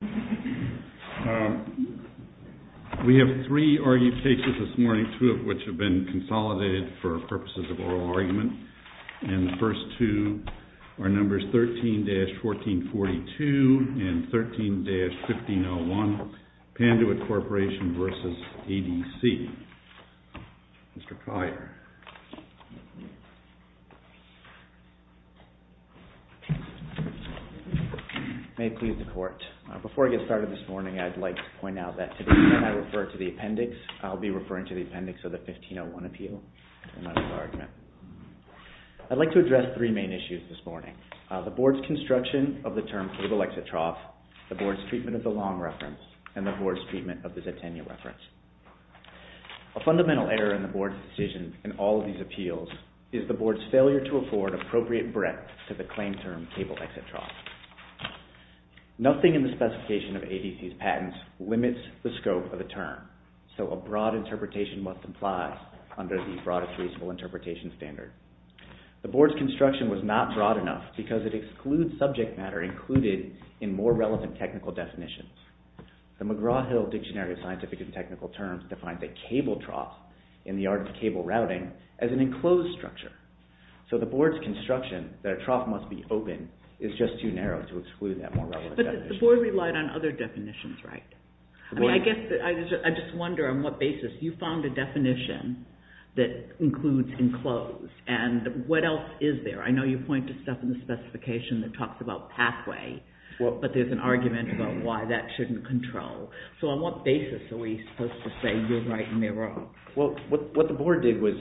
We have three argumentations this morning, two of which have been consolidated for purposes of oral argument, and the first two are numbers 13-1442 and 13-1501, Panduit Corporation v. ADC. Mr. Collier. May it please the court. Before I get started this morning, I'd like to point out that today when I refer to the appendix, I'll be referring to the appendix of the 1501 appeal in my oral argument. I'd like to address three main issues this morning. The board's construction of the term for the lexitroph, the board's treatment of the long reference, and the board's treatment of the zetainia reference. A fundamental error in the board's decision in all of these appeals is the board's failure to afford appropriate breadth to the claim term table lexitroph. Nothing in the specification of ADC's patents limits the scope of the term, so a broad interpretation must apply under the broadest reasonable interpretation standard. The board's construction was not broad enough because it excludes subject matter included in more relevant technical definitions. The McGraw-Hill Dictionary of Scientific and Technical Terms defines a cable trough in the art of cable routing as an enclosed structure, so the board's construction that a trough must be open is just too narrow to exclude that more relevant definition. But the board relied on other definitions, right? I mean, I guess I just wonder on what basis you found a definition that includes enclosed, and what else is there? I know you point to stuff in the specification that talks about pathway, but there's an argument about why that shouldn't control. So on what basis are we supposed to say you're right and they're wrong? Well, what the board did was,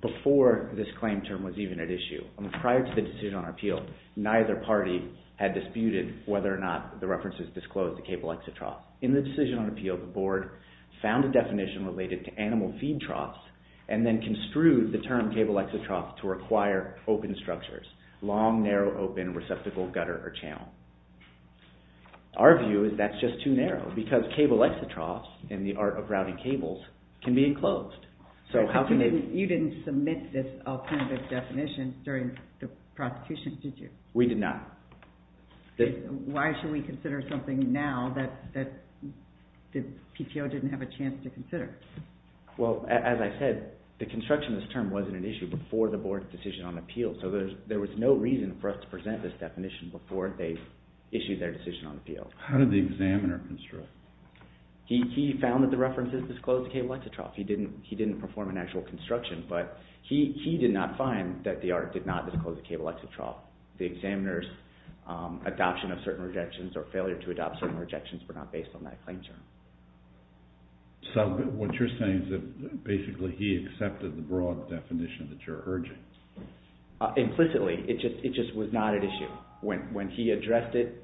before this claim term was even at issue, prior to the decision on appeal, neither party had disputed whether or not the references disclosed the cable exit trough. In the decision on appeal, the board found a definition related to animal feed troughs and then construed the term cable exit trough to require open structures, long, narrow, open, receptacle, gutter, or channel. Our view is that's just too narrow because cable exit troughs, in the art of routing cables, can be enclosed. You didn't submit this alternative definition during the prosecution, did you? We did not. Why should we consider something now that the PTO didn't have a chance to consider? Well, as I said, the construction of this term wasn't an issue before the board's decision on appeal, so there was no reason for us to present this definition before they issued their decision on appeal. How did the examiner construct? He found that the references disclosed the cable exit trough. He didn't perform an actual construction, but he did not find that the art did not disclose the cable exit trough. The examiner's adoption of certain rejections or failure to adopt certain rejections were not based on that claim term. So what you're saying is that basically he accepted the broad definition that you're urging. Implicitly, it just was not an issue. When he addressed it,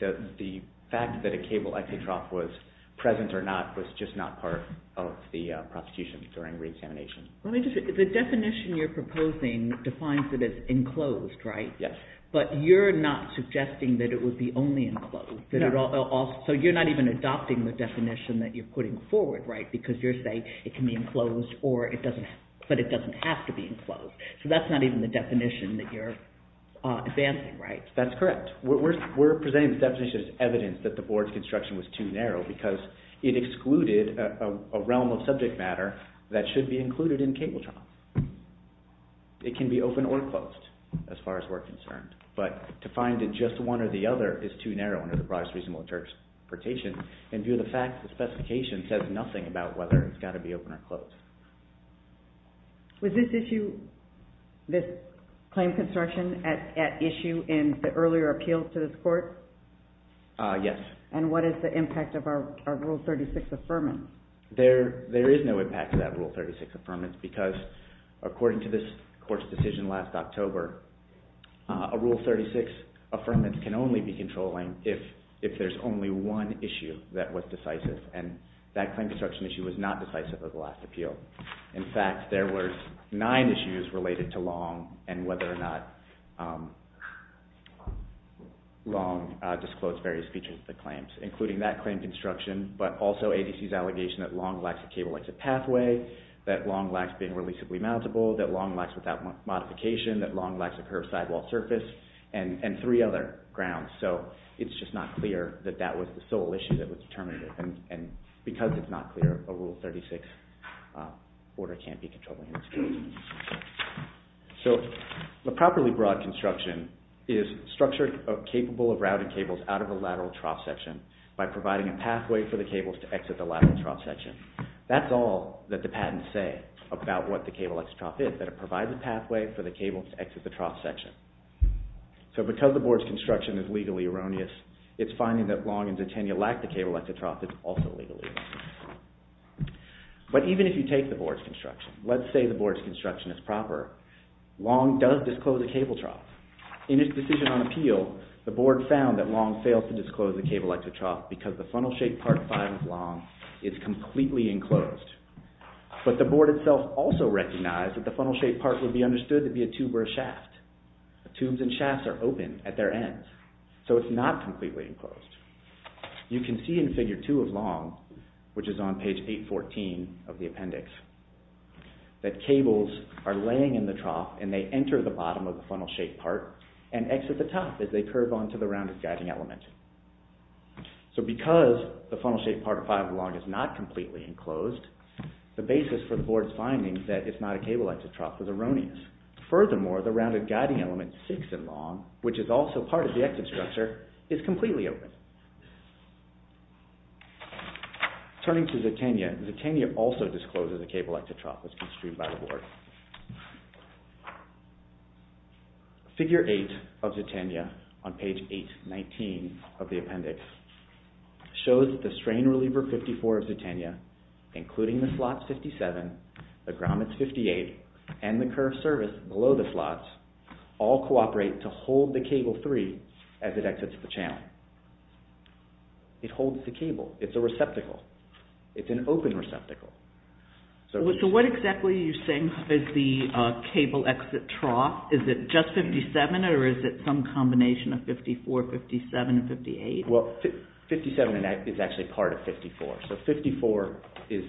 the fact that a cable exit trough was present or not was just not part of the prosecution during re-examination. The definition you're proposing defines that it's enclosed, right? Yes. But you're not suggesting that it would be only enclosed? No. So you're not even adopting the definition that you're putting forward, right? Because you're saying it can be enclosed, but it doesn't have to be enclosed. So that's not even the definition that you're advancing, right? That's correct. We're presenting the definition as evidence that the board's construction was too narrow because it excluded a realm of subject matter that should be included in cable trough. It can be open or closed, as far as we're concerned. But to find that just one or the other is too narrow under the broadest reasonable interpretation and due to the fact that the specification says nothing about whether it's got to be open or closed. Was this issue, this claim construction at issue in the earlier appeals to this court? Yes. And what is the impact of our Rule 36 Affirmance? There is no impact to that Rule 36 Affirmance because according to this court's decision last October, a Rule 36 Affirmance can only be controlling if there's only one issue that was decisive and that claim construction issue was not decisive of the last appeal. In fact, there were nine issues related to Long and whether or not Long disclosed various features of the claims, including that claim construction, but also ADC's allegation that Long lacks a cable exit pathway, that Long lacks being releasably mountable, that Long lacks without modification, that Long lacks a curved sidewall surface, and three other grounds. So, it's just not clear that that was the sole issue that was determinative and because it's not clear, a Rule 36 order can't be controlling in this case. So, a properly broad construction is structured capable of routing cables out of a lateral trough section by providing a pathway for the cables to exit the lateral trough section. That's all that the patents say about what the cable exit trough is, that it provides a pathway for the cables to exit the trough section. So, because the board's construction is legally erroneous, it's finding that Long and Zatenia lack the cable exit trough that's also legally erroneous. But even if you take the board's construction, let's say the board's construction is proper, Long does disclose a cable trough. In his decision on appeal, the board found that Long failed to disclose the cable exit trough because the funnel-shaped part 5 of Long is completely enclosed. But the board itself also recognized that the funnel-shaped part would be understood to be a tube or a shaft. Tubes and shafts are open at their ends, so it's not completely enclosed. You can see in figure 2 of Long, which is on page 814 of the appendix, that cables are laying in the trough and they enter the bottom of the funnel-shaped part and exit the top as they curve onto the rounded guiding element. So because the funnel-shaped part of 5 of Long is not completely enclosed, the basis for the board's finding that it's not a cable exit trough is erroneous. Furthermore, the rounded guiding element 6 in Long, which is also part of the exit structure, is completely open. Turning to Zatenia, Zatenia also discloses a cable exit trough that's construed by the board. Figure 8 of Zatenia, on page 819 of the appendix, shows that the strain reliever 54 of Zatenia, including the slot 57, the grommets 58, and the curve service below the slots, all cooperate to hold the cable 3 as it exits the channel. It holds the cable. It's a receptacle. It's an open receptacle. So what exactly are you saying is the cable exit trough? Is it just 57 or is it some combination of 54, 57, and 58? Well, 57 is actually part of 54. So 54 is,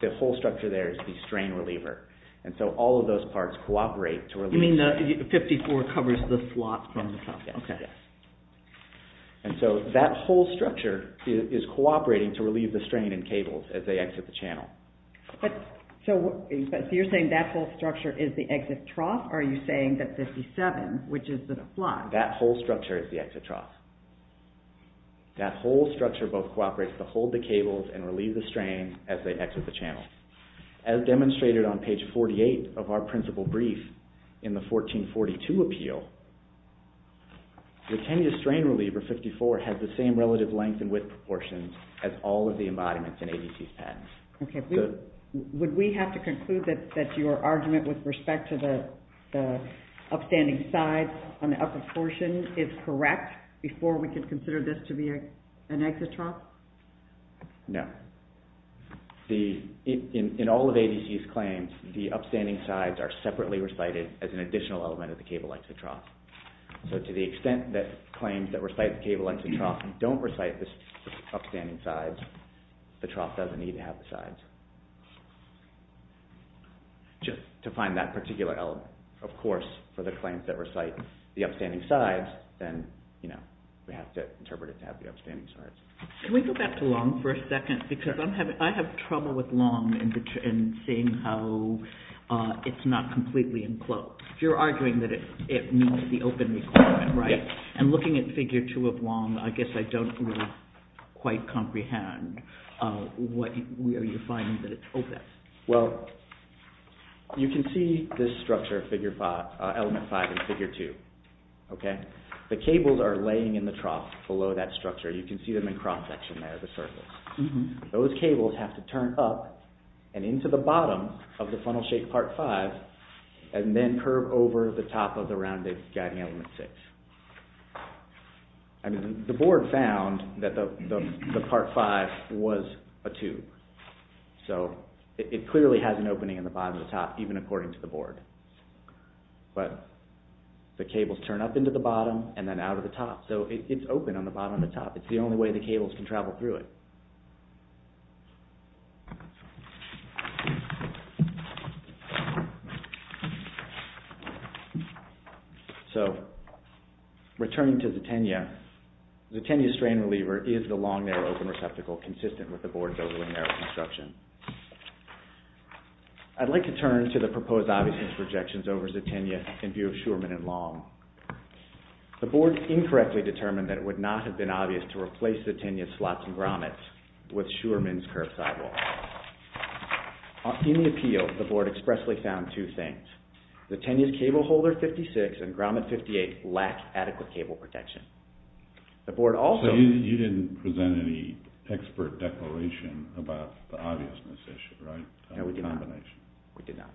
the whole structure there is the strain reliever. And so all of those parts cooperate to relieve... You mean 54 covers the slot from the trough? Yes. And so that whole structure is cooperating to relieve the strain in cables as they exit the channel. So you're saying that whole structure is the exit trough? Or are you saying that 57, which is the slot... That whole structure is the exit trough. That whole structure both cooperates to hold the cables and relieve the strain as they exit the channel. As demonstrated on page 48 of our principal brief in the 1442 appeal, the Kenya strain reliever 54 has the same relative length and width proportions as all of the embodiments in ABC's patents. Okay. Would we have to conclude that your argument with respect to the upstanding sides on the upper portion is correct before we can consider this to be an exit trough? No. In all of ABC's claims, the upstanding sides are separately recited as an additional element of the cable exit trough. So to the extent that claims that recite the cable exit trough don't recite the upstanding sides, the trough doesn't need to have the sides. Just to find that particular element. Of course, for the claims that recite the upstanding sides, then we have to interpret it to have the upstanding sides. Can we go back to Long for a second? Because I have trouble with Long and seeing how it's not completely enclosed. You're arguing that it meets the open requirement, right? Yes. And looking at Figure 2 of Long, I guess I don't really quite comprehend where you find that it's open. Well, you can see this structure, Element 5 in Figure 2. Okay? The cables are laying in the trough below that structure. You can see them in cross-section there, the surface. Those cables have to turn up and into the bottom of the funnel-shaped Part 5 and then curve over the top of the rounded Guiding Element 6. The board found that the Part 5 was a tube. So it clearly has an opening in the bottom of the top, even according to the board. But the cables turn up into the bottom and then out of the top. So it's open on the bottom and the top. It's the only way the cables can travel through it. So, returning to Zetenya, Zetenya's strain reliever is the Long narrow open receptacle consistent with the board's overland narrow construction. I'd like to turn to the proposed obviousness projections over Zetenya in view of Schuerman and Long. The board incorrectly determined that it would not have been obvious to replace Zetenya's slots and grommets with Schuerman's curved sidewalls. In the appeal, the board expressly found two things. Zetenya's cable holder 56 and grommet 58 lack adequate cable protection. The board also... So you didn't present any expert declaration about the obviousness issue, right? No, we did not. A combination. We did not.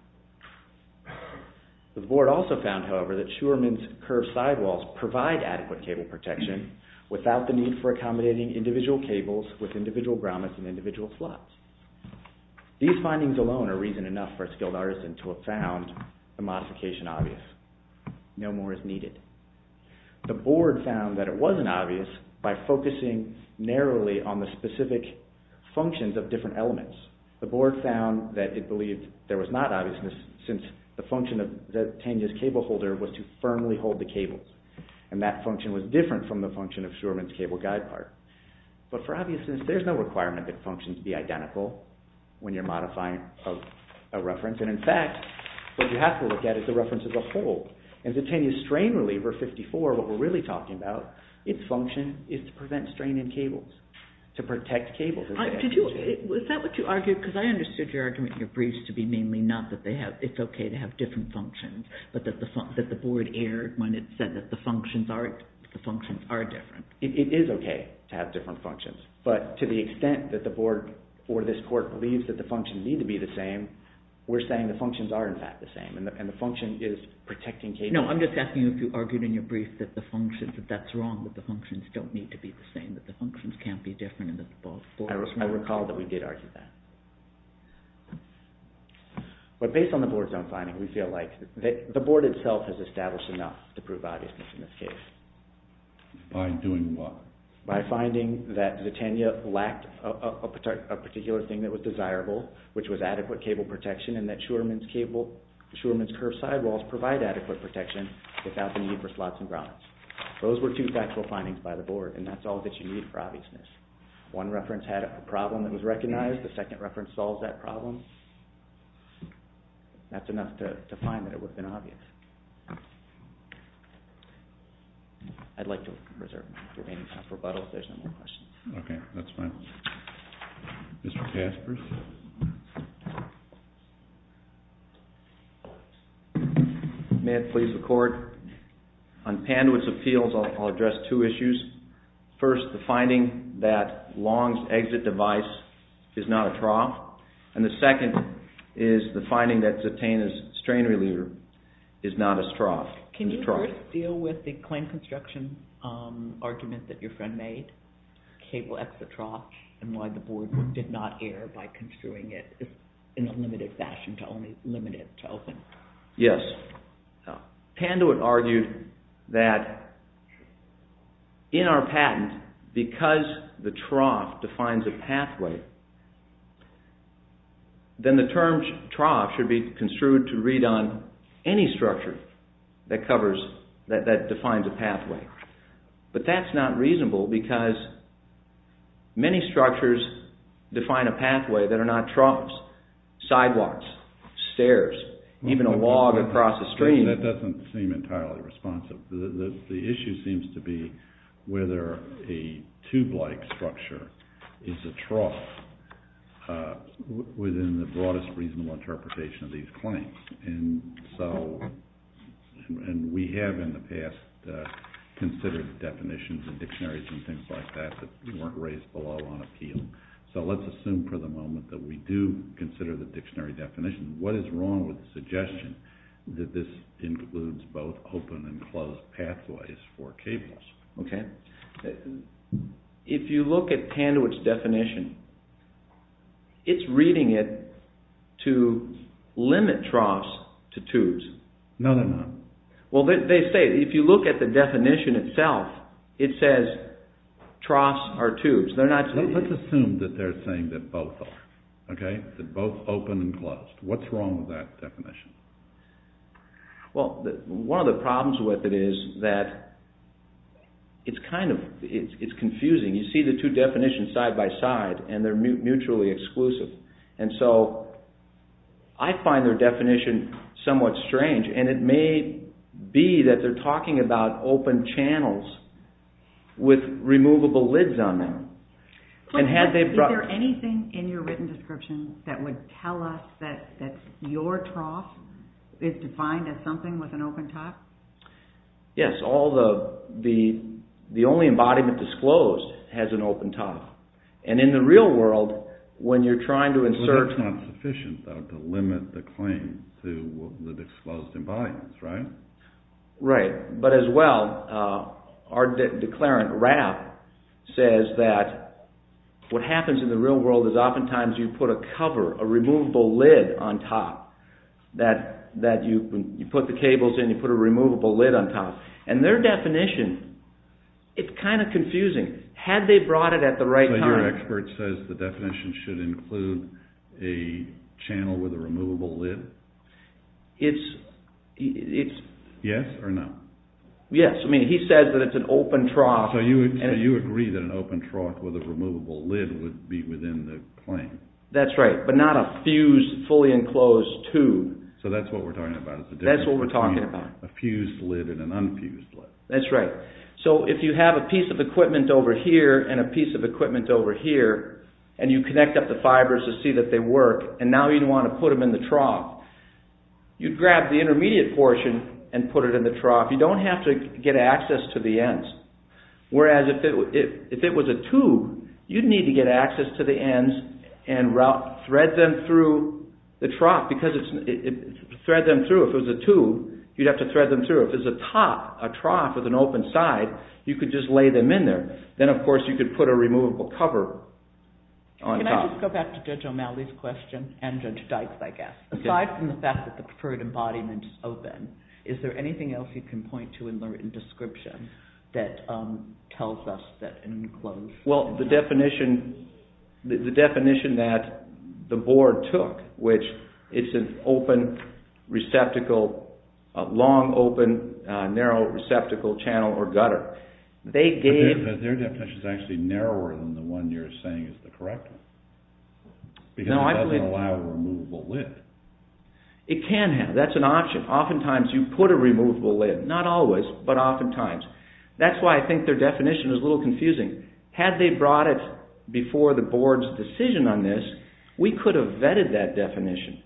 The board also found, however, that Schuerman's curved sidewalls provide adequate cable protection without the need for accommodating individual cables with individual grommets and individual slots. These findings alone are reason enough for a skilled artisan to have found the modification obvious. No more is needed. The board found that it wasn't obvious by focusing narrowly on the specific functions of different elements. The board found that it believed there was not obviousness since the function of Zetenya's cable holder was to firmly hold the cables. And that function was different from the function of Schuerman's cable guide part. But for obviousness, there's no requirement that functions be identical when you're modifying a reference. And in fact, what you have to look at is the reference as a whole. And Zetenya's strain reliever 54, what we're really talking about, its function is to prevent strain in cables, to protect cables. Is that what you argued? Because I understood your argument in your briefs to be mainly not that it's okay to have different functions, but that the board erred when it said that the functions are different. It is okay to have different functions. But to the extent that the board or this court believes that the functions need to be the same, we're saying the functions are in fact the same. And the function is protecting cables. No, I'm just asking if you argued in your brief that that's wrong, that the functions don't need to be the same, that the functions can't be different. Of course, I recall that we did argue that. But based on the board's own finding, we feel like the board itself has established enough to prove obviousness in this case. By doing what? By finding that Zetenya lacked a particular thing that was desirable, which was adequate cable protection, and that Shurman's curved sidewalls provide adequate protection without the need for slots and grommets. Those were two factual findings by the board, and that's all that you need for obviousness. One reference had a problem that was recognized. The second reference solves that problem. That's enough to find that it would have been obvious. I'd like to reserve my remaining time for rebuttal if there's no more questions. Okay, that's fine. Mr. Kaspers? May it please the court? On Pandwood's appeals, I'll address two issues. First, the finding that Long's exit device is not a trough, and the second is the finding that Zetenya's strain reliever is not a trough. Can you first deal with the claim construction argument that your friend made, cable exit trough, and why the board did not err by construing it in a limited fashion to limit it to open? Yes. Pandwood argued that in our patent, because the trough defines a pathway, then the term trough should be construed to read on any structure that defines a pathway. But that's not reasonable because many structures define a pathway that are not troughs, sidewalks, stairs, even a log across a stream. That doesn't seem entirely responsive. The issue seems to be whether a tube-like structure is a trough within the broadest reasonable interpretation of these claims. And we have in the past considered definitions and dictionaries and things like that that weren't raised below on appeal. So let's assume for the moment that we do consider the dictionary definition. What is wrong with the suggestion that this includes both open and closed pathways for cables? Okay. If you look at Pandwood's definition, it's reading it to limit troughs to tubes. No, they're not. Well, they say, if you look at the definition itself, it says troughs are tubes. Let's assume that they're saying that both are. Okay? That both open and closed. What's wrong with that definition? Well, one of the problems with it is that it's confusing. You see the two definitions side by side and they're mutually exclusive. And so I find their definition somewhat strange and it may be that they're talking about open channels with removable lids on them. Is there anything in your written description that would tell us that your trough is defined as something with an open top? Yes. The only embodiment disclosed has an open top. And in the real world, when you're trying to insert... But it's not sufficient, though, to limit the claim to the disclosed embodiments, right? Right. But as well, our declarant, Rapp, says that what happens in the real world is oftentimes you put a cover, a removable lid on top, that you put the cables in, you put a removable lid on top. And their definition, it's kind of confusing. Had they brought it at the right time... So your expert says the definition should include a channel with a removable lid? It's... Yes or no? Yes. I mean, he says that it's an open trough. So you agree that an open trough with a removable lid would be within the claim? That's right. But not a fused, fully enclosed tube. So that's what we're talking about. That's what we're talking about. A fused lid and an unfused lid. That's right. So if you have a piece of equipment over here and a piece of equipment over here, and you connect up the fibers to see that they work, and now you want to put them in the trough, you'd grab the intermediate portion and put it in the trough. You don't have to get access to the ends. Whereas if it was a tube, you'd need to get access to the ends and thread them through the trough. Because it's... Thread them through. If it was a tube, you'd have to thread them through. If it was a top, a trough with an open side, Then, of course, you could put a removable cover on top. Can I just go back to Judge O'Malley's question? And Judge Dykes, I guess. Aside from the fact that the preferred embodiment is open, is there anything else you can point to in the written description that tells us that it's enclosed? Well, the definition that the board took, which it's an open receptacle, a long, open, narrow receptacle channel or gutter. They gave... Their definition is actually narrower than the one you're saying is the correct one. Because it doesn't allow a removable lid. It can have. That's an option. Oftentimes, you put a removable lid. Not always, but oftentimes. That's why I think their definition is a little confusing. Had they brought it before the board's decision on this, we could have vetted that definition.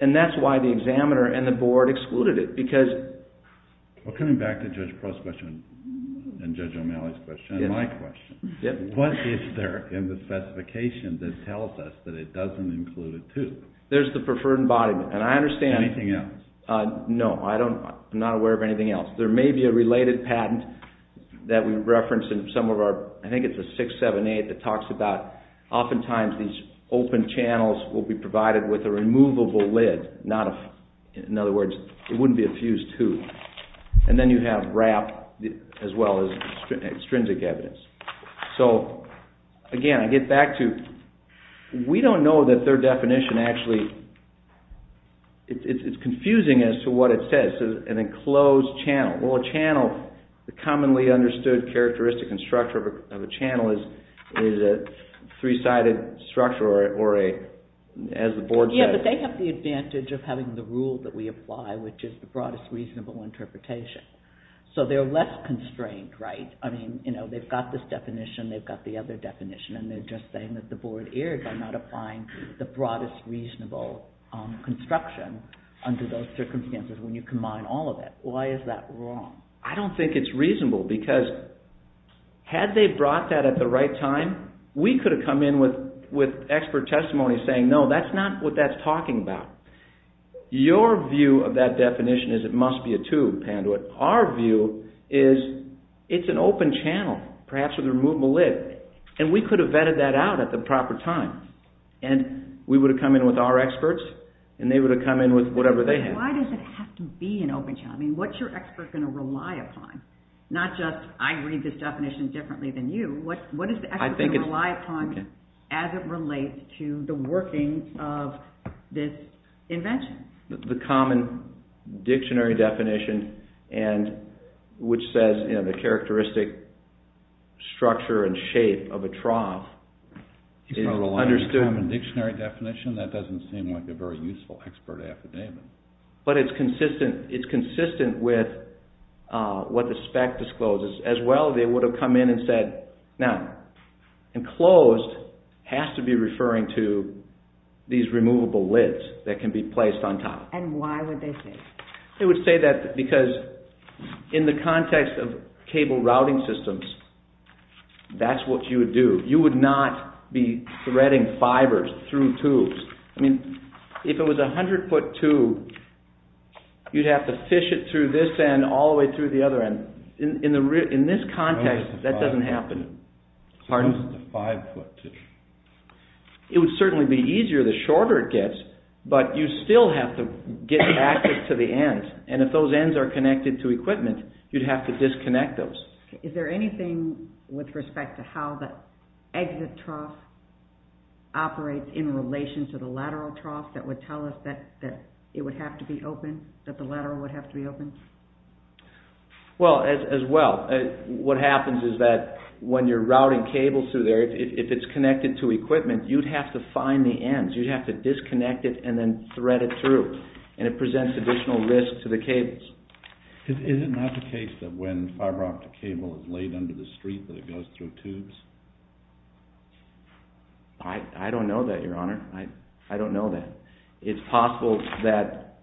And that's why the examiner and the board excluded it. Because... Well, coming back to Judge Prost's question and Judge O'Malley's question and my question. What is there in the specification that tells us that it doesn't include a tube? There's the preferred embodiment. Anything else? No, I'm not aware of anything else. There may be a related patent that we reference in some of our... I think it's a 678 that talks about oftentimes these open channels will be provided with a removable lid. In other words, it wouldn't be a fused tube. And then you have wrap as well as extrinsic evidence. So, again, I get back to... We don't know that their definition actually... It's confusing as to what it says. An enclosed channel. Well, a channel, the commonly understood characteristic and structure of a channel is a three-sided structure or a... as the board says. Yeah, but they have the advantage of having the rule that we apply, which is the broadest reasonable interpretation. So they're less constrained, right? I mean, they've got this definition, they've got the other definition, and they're just saying that the board erred by not applying the broadest reasonable construction under those circumstances when you combine all of it. Why is that wrong? I don't think it's reasonable because had they brought that at the right time, we could have come in with expert testimony saying, no, that's not what that's talking about. Your view of that definition is it must be a tube, Panduit. Our view is it's an open channel, perhaps with a removable lid, and we could have vetted that out at the proper time, and we would have come in with our experts, and they would have come in with whatever they had. But why does it have to be an open channel? I mean, what's your expert going to rely upon? Not just, I read this definition differently than you. What is the expert going to rely upon as it relates to the working of this invention? The common dictionary definition which says, you know, the characteristic structure and shape of a trough. It's not a common dictionary definition. That doesn't seem like a very useful expert affidavit. But it's consistent. It's consistent with what the spec discloses. As well, they would have come in and said, now, enclosed has to be referring to these removable lids that can be placed on top. And why would they say that? They would say that because in the context of cable routing systems, that's what you would do. You would not be threading fibers through tubes. I mean, if it was a 100-foot tube, you'd have to fish it through this end all the way through the other end. In this context, that doesn't happen. It's a 5-foot tube. It would certainly be easier the shorter it gets, but you still have to get access to the ends. And if those ends are connected to equipment, you'd have to disconnect those. Is there anything with respect to how the exit trough operates in relation to the lateral trough that would tell us that it would have to be open, that the lateral would have to be open? Well, as well, what happens is that when you're routing cables through there, if it's connected to equipment, you'd have to find the ends. Disconnect it and then thread it through. And it presents additional risk to the cables. Is it not the case that when fiber optic cable is laid under the street that it goes through tubes? I don't know that, Your Honor. I don't know that. It's possible that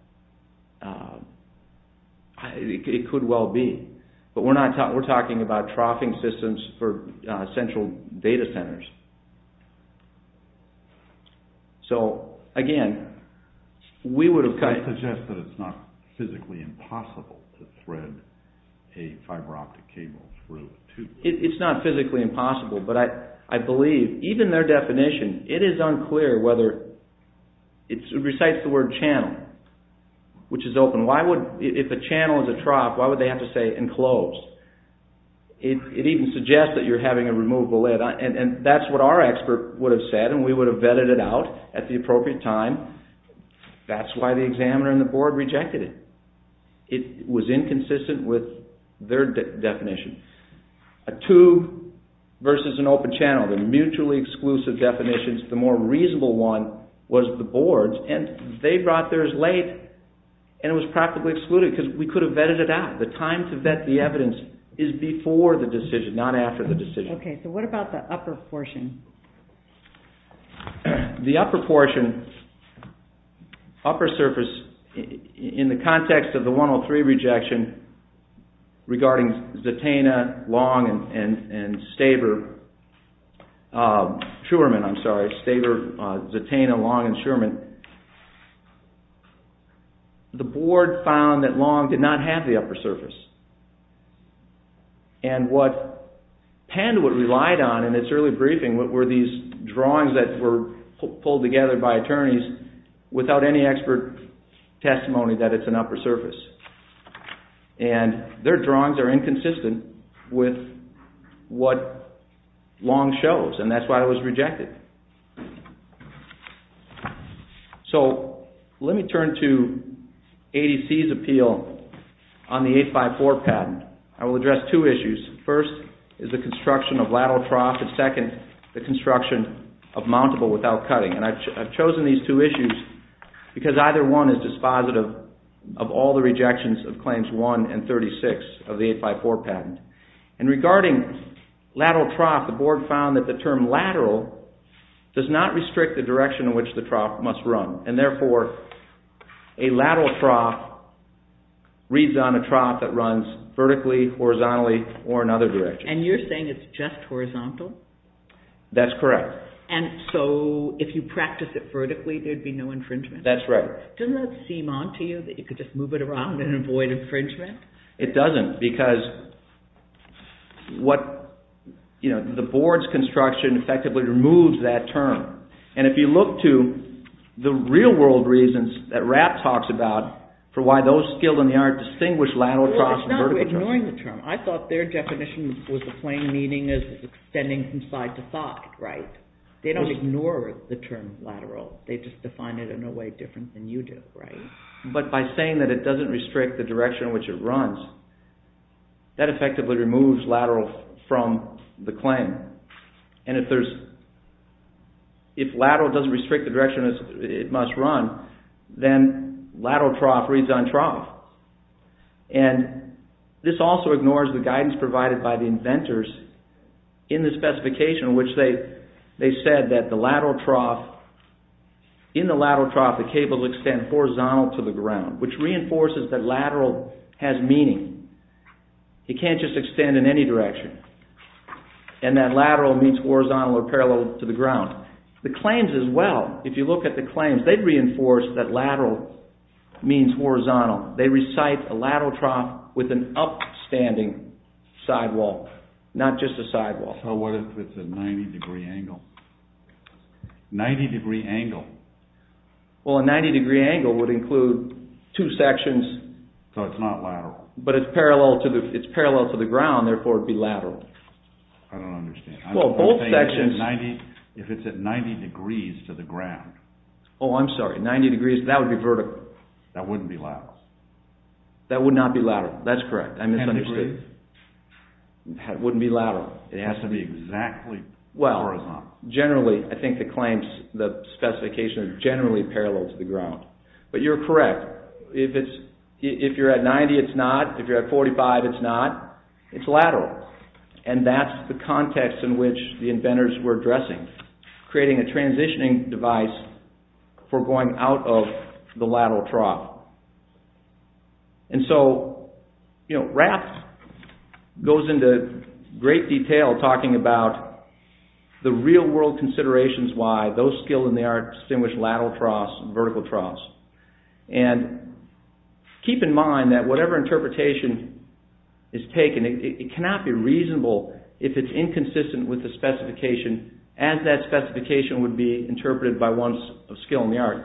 it could well be. But we're talking about troughing systems for central data centers. So, again, we would have cut... That suggests that it's not physically impossible to thread a fiber optic cable through a tube. It's not physically impossible, but I believe, even their definition, it is unclear whether... It recites the word channel, which is open. If a channel is a trough, why would they have to say enclosed? It even suggests that you're having a removable lid. And that's what our expert would have said, and we would have vetted it out at the appropriate time. That's why the examiner and the board rejected it. It was inconsistent with their definition. A tube versus an open channel, the mutually exclusive definitions, the more reasonable one was the board's, and they brought theirs late, and it was practically excluded because we could have vetted it out. The time to vet the evidence is before the decision, not after the decision. What about the upper portion? The upper portion, upper surface, in the context of the 103 rejection, regarding Zataina, Long, and Staver, Schuerman, I'm sorry, Staver, Zataina, Long, and Schuerman, the board found that Long did not have the upper surface. And what Penn would rely on in its early briefing were these drawings that were pulled together by attorneys without any expert testimony that it's an upper surface. And their drawings are inconsistent with what Long shows, and that's why it was rejected. So let me turn to ADC's appeal on the 854 patent. I will address two issues. First is the construction of lateral trough and second, the construction of mountable without cutting. And I've chosen these two issues because either one is dispositive of all the rejections of Claims 1 and 36 of the 854 patent. And regarding lateral trough, the board found that the term lateral does not restrict the direction in which the trough must run. And therefore, a lateral trough reads on a trough that runs vertically, horizontally, or another direction. And you're saying it's just horizontal? That's correct. And so if you practice it vertically, there'd be no infringement? That's right. Doesn't that seem odd to you that you could just move it around and avoid infringement? It doesn't, because the board's construction effectively removes that term. And if you look to the real world reasons that Rapp talks about for why those skilled in the art distinguish lateral troughs No, it's not ignoring the term. I thought their definition was the plain meaning is extending from side to side, right? They don't ignore the term lateral. They just define it in a way different than you do, right? But by saying that it doesn't restrict the direction in which it runs, that effectively removes lateral from the claim. And if lateral doesn't restrict the direction it must run, then lateral trough This also ignores the guidance provided by the inventors in the specification in which they said that in the lateral trough the cable extends horizontal to the ground, which reinforces that lateral has meaning. It can't just extend in any direction. And that lateral means horizontal or parallel to the ground. The claims as well, if you look at the claims, they reinforce that lateral means horizontal. It's an upstanding sidewall, not just a sidewall. So what if it's a 90 degree angle? 90 degree angle. Well, a 90 degree angle would include two sections. So it's not lateral. But it's parallel to the ground, therefore it would be lateral. I don't understand. If it's at 90 degrees to the ground. Oh, I'm sorry. 90 degrees, that would be vertical. That wouldn't be lateral. That would not be lateral. That's correct. It wouldn't be lateral. It has to be exactly horizontal. Well, generally, I think the claims, the specifications are generally parallel to the ground. But you're correct. If you're at 90, it's not. If you're at 45, it's not. It's lateral. And that's the context in which the inventors were addressing. Creating a transitioning device to the ground. And so, Raft goes into great detail talking about the real world considerations why those skilled in the art distinguish lateral troughs and vertical troughs. And keep in mind that whatever interpretation is taken, it cannot be reasonable if it's inconsistent with the specification as that specification would be interpreted by one of those skilled in the art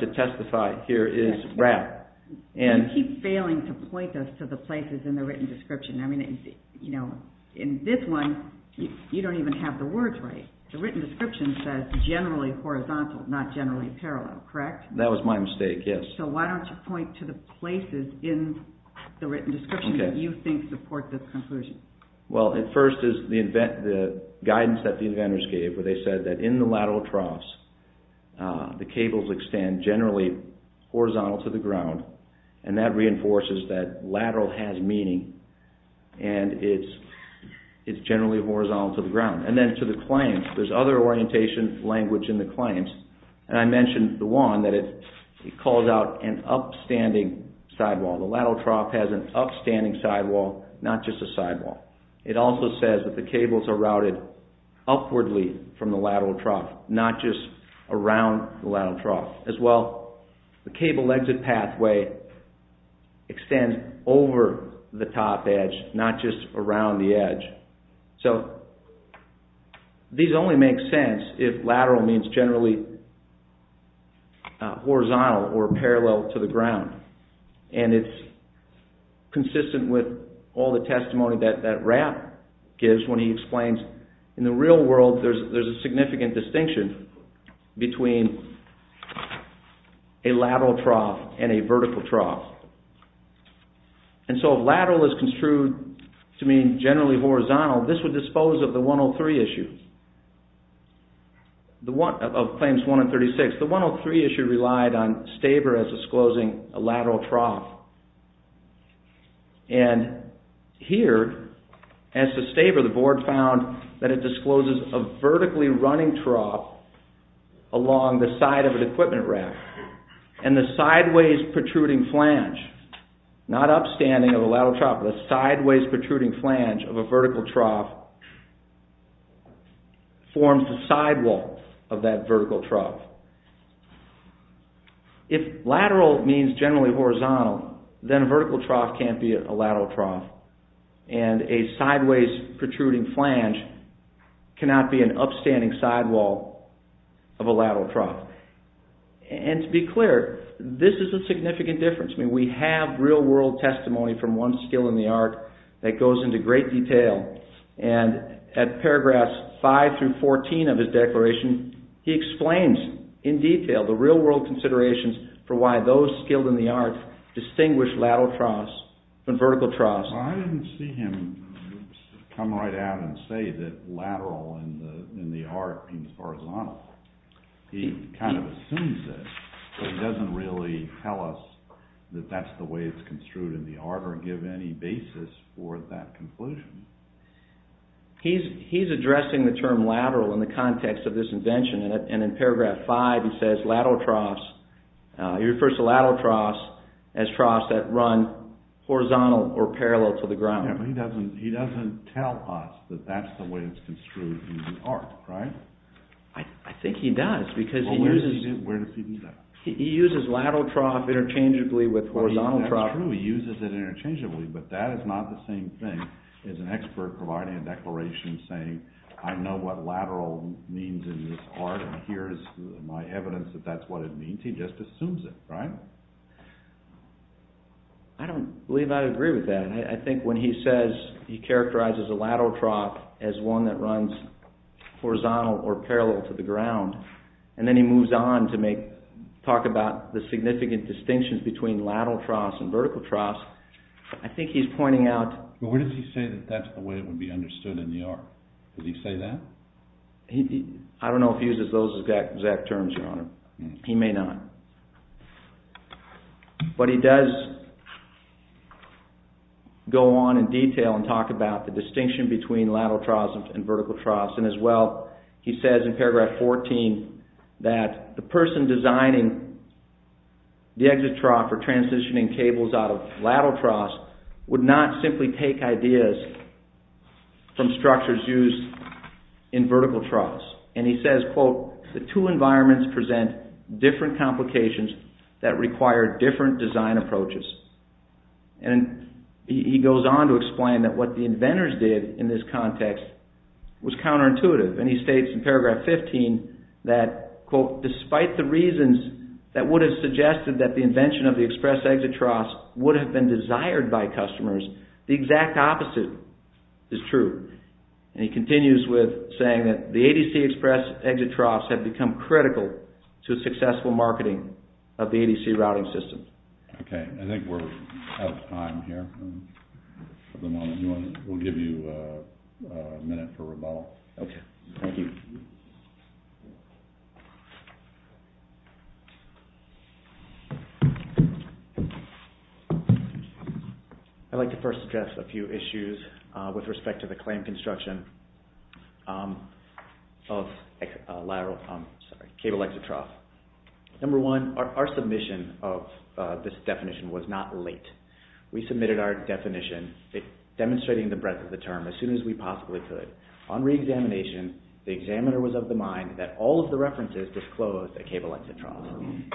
to testify here is Raft. You keep failing to point us to the places in the written description. In this one, you don't even have the words right. The written description says generally horizontal, not generally parallel, correct? That was my mistake, yes. So why don't you point to the places in the written description that you think support this conclusion? Well, at first is the guidance that the inventors gave where they said that in the lateral troughs, the cables extend generally horizontal to the ground. And that reinforces that lateral has meaning. And it's generally horizontal to the ground. And then to the client, there's other orientation language in the claims. And I mentioned the one that it calls out an upstanding sidewall, not just a sidewall. It also says that the cables are routed upwardly from the lateral trough, not just around the lateral trough. As well, the cable exit pathway extends over the top edge, not just around the edge. So these only make sense if lateral means generally horizontal or parallel to the ground. And it's consistent with all the testimony that Rapp gives when he explains in the real world, there's a significant distinction between a lateral trough and a vertical trough. And so if lateral is construed to mean generally horizontal, this would dispose of the 103 issue. Of Claims 1 and 36. The 103 issue relied on Staber as disclosing a lateral trough. And here, as to Staber, the board found that it discloses a vertically running trough along the side of an equipment rack. And the sideways protruding flange, not upstanding of a lateral trough, but a sideways protruding flange of a vertical trough forms the sidewall of that vertical trough. If lateral means generally horizontal, then a vertical trough can't be a lateral trough. And a sideways protruding flange cannot be an upstanding sidewall of a lateral trough. And to be clear, this is a significant difference. I mean, we have real world testimony from one skill in the art that goes into great detail. And at paragraphs 5 through 14 of his declaration, he explains in detail the real world considerations for why those skilled in the art distinguish lateral troughs from vertical troughs. Well, I didn't see him come right out and say that lateral in the art means horizontal. He kind of assumes that, but he doesn't really tell us that that's the way it's construed in the art or give any basis for that conclusion. He's addressing the term lateral in the context of this invention. And in paragraph 5, he says lateral troughs, he refers to lateral troughs as troughs that run horizontal or parallel to the ground. Yeah, but he doesn't tell us that that's the way it's construed in the art, right? I think he does because he uses... Well, where does he do that? He uses lateral trough interchangeably with horizontal trough. That's true. He uses it interchangeably, but that is not the same thing as an expert providing a declaration saying, I know what lateral means in this art and here is my evidence that that's what it means. He just assumes it, right? I don't believe I agree with that. I think when he says he characterizes a lateral trough as one that runs horizontal or parallel to the ground, and then he moves on to talk about the significant distinctions between lateral troughs and vertical troughs, I think he's pointing out... But where does he say that that's the way it would be understood in the art? Does he say that? I don't know if he uses those exact terms, Your Honor. He may not. But he does go on in detail and talk about the distinction between lateral troughs and vertical troughs. And as well, he says in paragraph 14 that the person designing the exit trough for transitioning cables out of lateral troughs would not simply present different complications in the design of vertical troughs. And he says, quote, the two environments present different complications in the design of vertical troughs. And he goes on to explain that what the inventors did in this context was counterintuitive. And he states in paragraph 15 that, quote, despite the reasons that would have suggested that the invention of the express exit troughs would have been desired by customers, ADC express exit troughs have become critical to successful marketing. And he goes on to explain that the inventors did in this context was counterintuitive. And he states in paragraph 14 of the ADC routing system. Okay. I think we're out of time here. For the moment, we'll give you a minute for rebuttal. Okay. Thank you. I'd like to first address a few issues with respect to the claim construction of cable exit troughs. Number one, the reasons why we submitted this definition was not late. We submitted our definition demonstrating the breadth of the term as soon as we possibly could. On reexamination, the examiner was of the mind that all of the references disclosed a cable exit trough.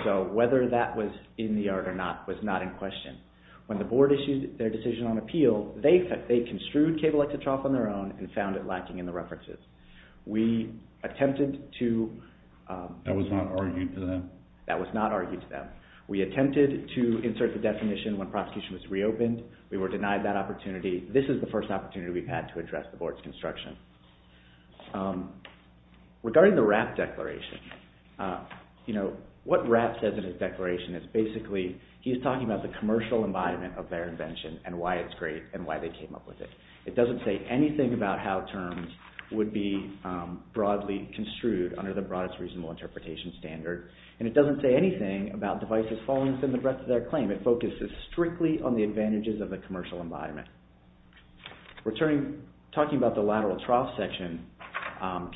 So whether that was in the art or not was not in question. When the board issued their decision on appeal, they construed the cable exit trough on their own and found it lacking in the references. We attempted to... That was not argued to them? That was not argued to them. We attempted to insert the definition when prosecution was reopened. We were denied that opportunity. This is the first opportunity we've had to address the board's construction. Regarding the Rapp declaration, what Rapp says in his declaration is basically, he's talking about the commercial embodiment of their invention and why it's great and why they came up with it. It doesn't say anything about how terms would be broadly construed under the broadest reasonable interpretation standard and it doesn't say anything about devices falling within the breadth of their claim. It focuses strictly on the advantages of the commercial embodiment. Talking about the lateral trough section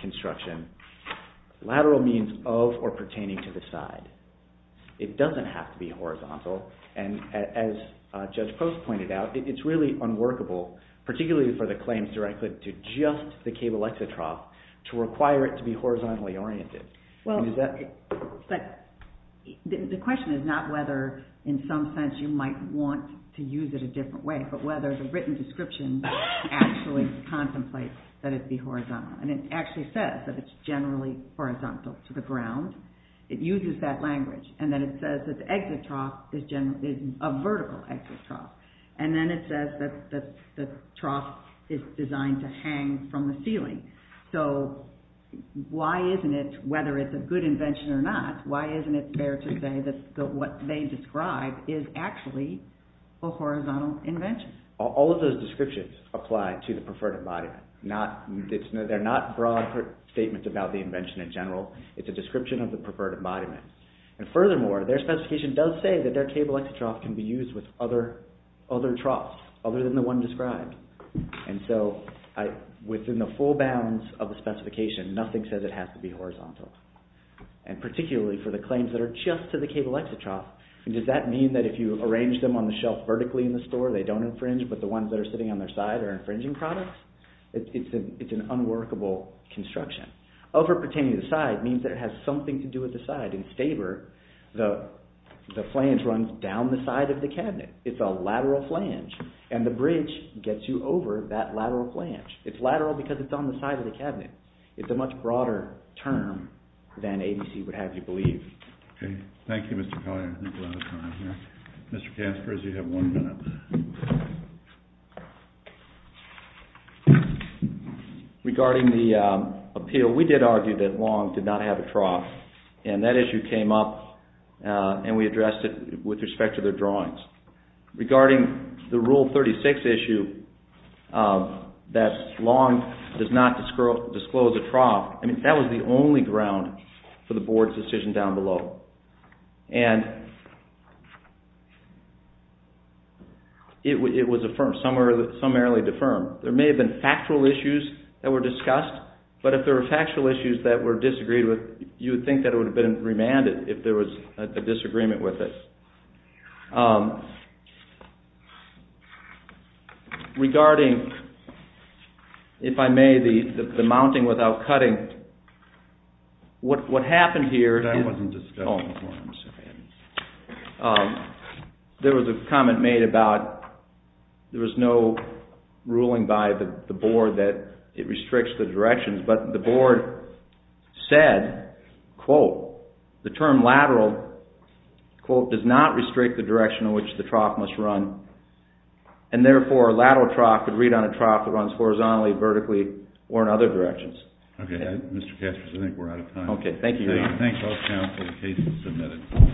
construction, lateral means of or pertaining to the side. It doesn't have to be horizontal and as Judge Post pointed out, it's really unworkable, particularly for the claims directly to just the cable exit trough to require it to be horizontally oriented. The question is not whether in some sense you might want to use it a different way but whether the written description actually contemplates that it be horizontal and it actually says that it's generally horizontal to the ground. It uses that language and then it says that the exit trough is a vertical exit trough and then it says that the trough is designed to hang from the ceiling. So why isn't it, whether it's a good invention or not, why do those descriptions apply to the preferred embodiment? They're not broad statements about the invention in general. It's a description of the preferred embodiment. And furthermore, their specification does say that their cable exit trough can be used with other troughs other than the one described. And so within the full bounds of the specification, nothing says that it has to be horizontal. And particularly for the claims that are just to the cable exit trough, does that mean that if you arrange them on the shelf vertically in the store, they don't infringe but the ones that are sitting on their side are infringing products? It's an unworkable construction. Over pertaining to the side means that it has something to do with the side. In favor, the flange runs down the side of the cabinet. It's a lateral flange. And the bridge gets you over that lateral flange. It's lateral because it's on the side of the cabinet. It's a much broader term than ABC would have you believe. Thank you. Thank you, Mr. Collier. Mr. Caspers, you have one minute. Regarding the appeal, we did argue that Long did not have a trough. And that issue came up and we addressed it with respect to the drawings. Regarding the rule 36 issue that Long does not disclose a trough, that was the only ground for the board's decision down below. And it was affirmed, summarily affirmed. There may have been factual issues that were discussed, but if there were factual issues that were disagreed with, you would think it would have been remanded if there was a disagreement with it. Regarding, if I may, the mounting without cutting, what happened here, there was a comment made about there was no ruling by the board that it restricts the directions, but the board said, quote, the term lateral does not restrict the direction of which the trough must run. And therefore, a lateral trough could read on a trough that runs horizontally, vertically, or in other directions. Okay, Mr. Kessler, I think we're out of time. Okay, thank you.???????????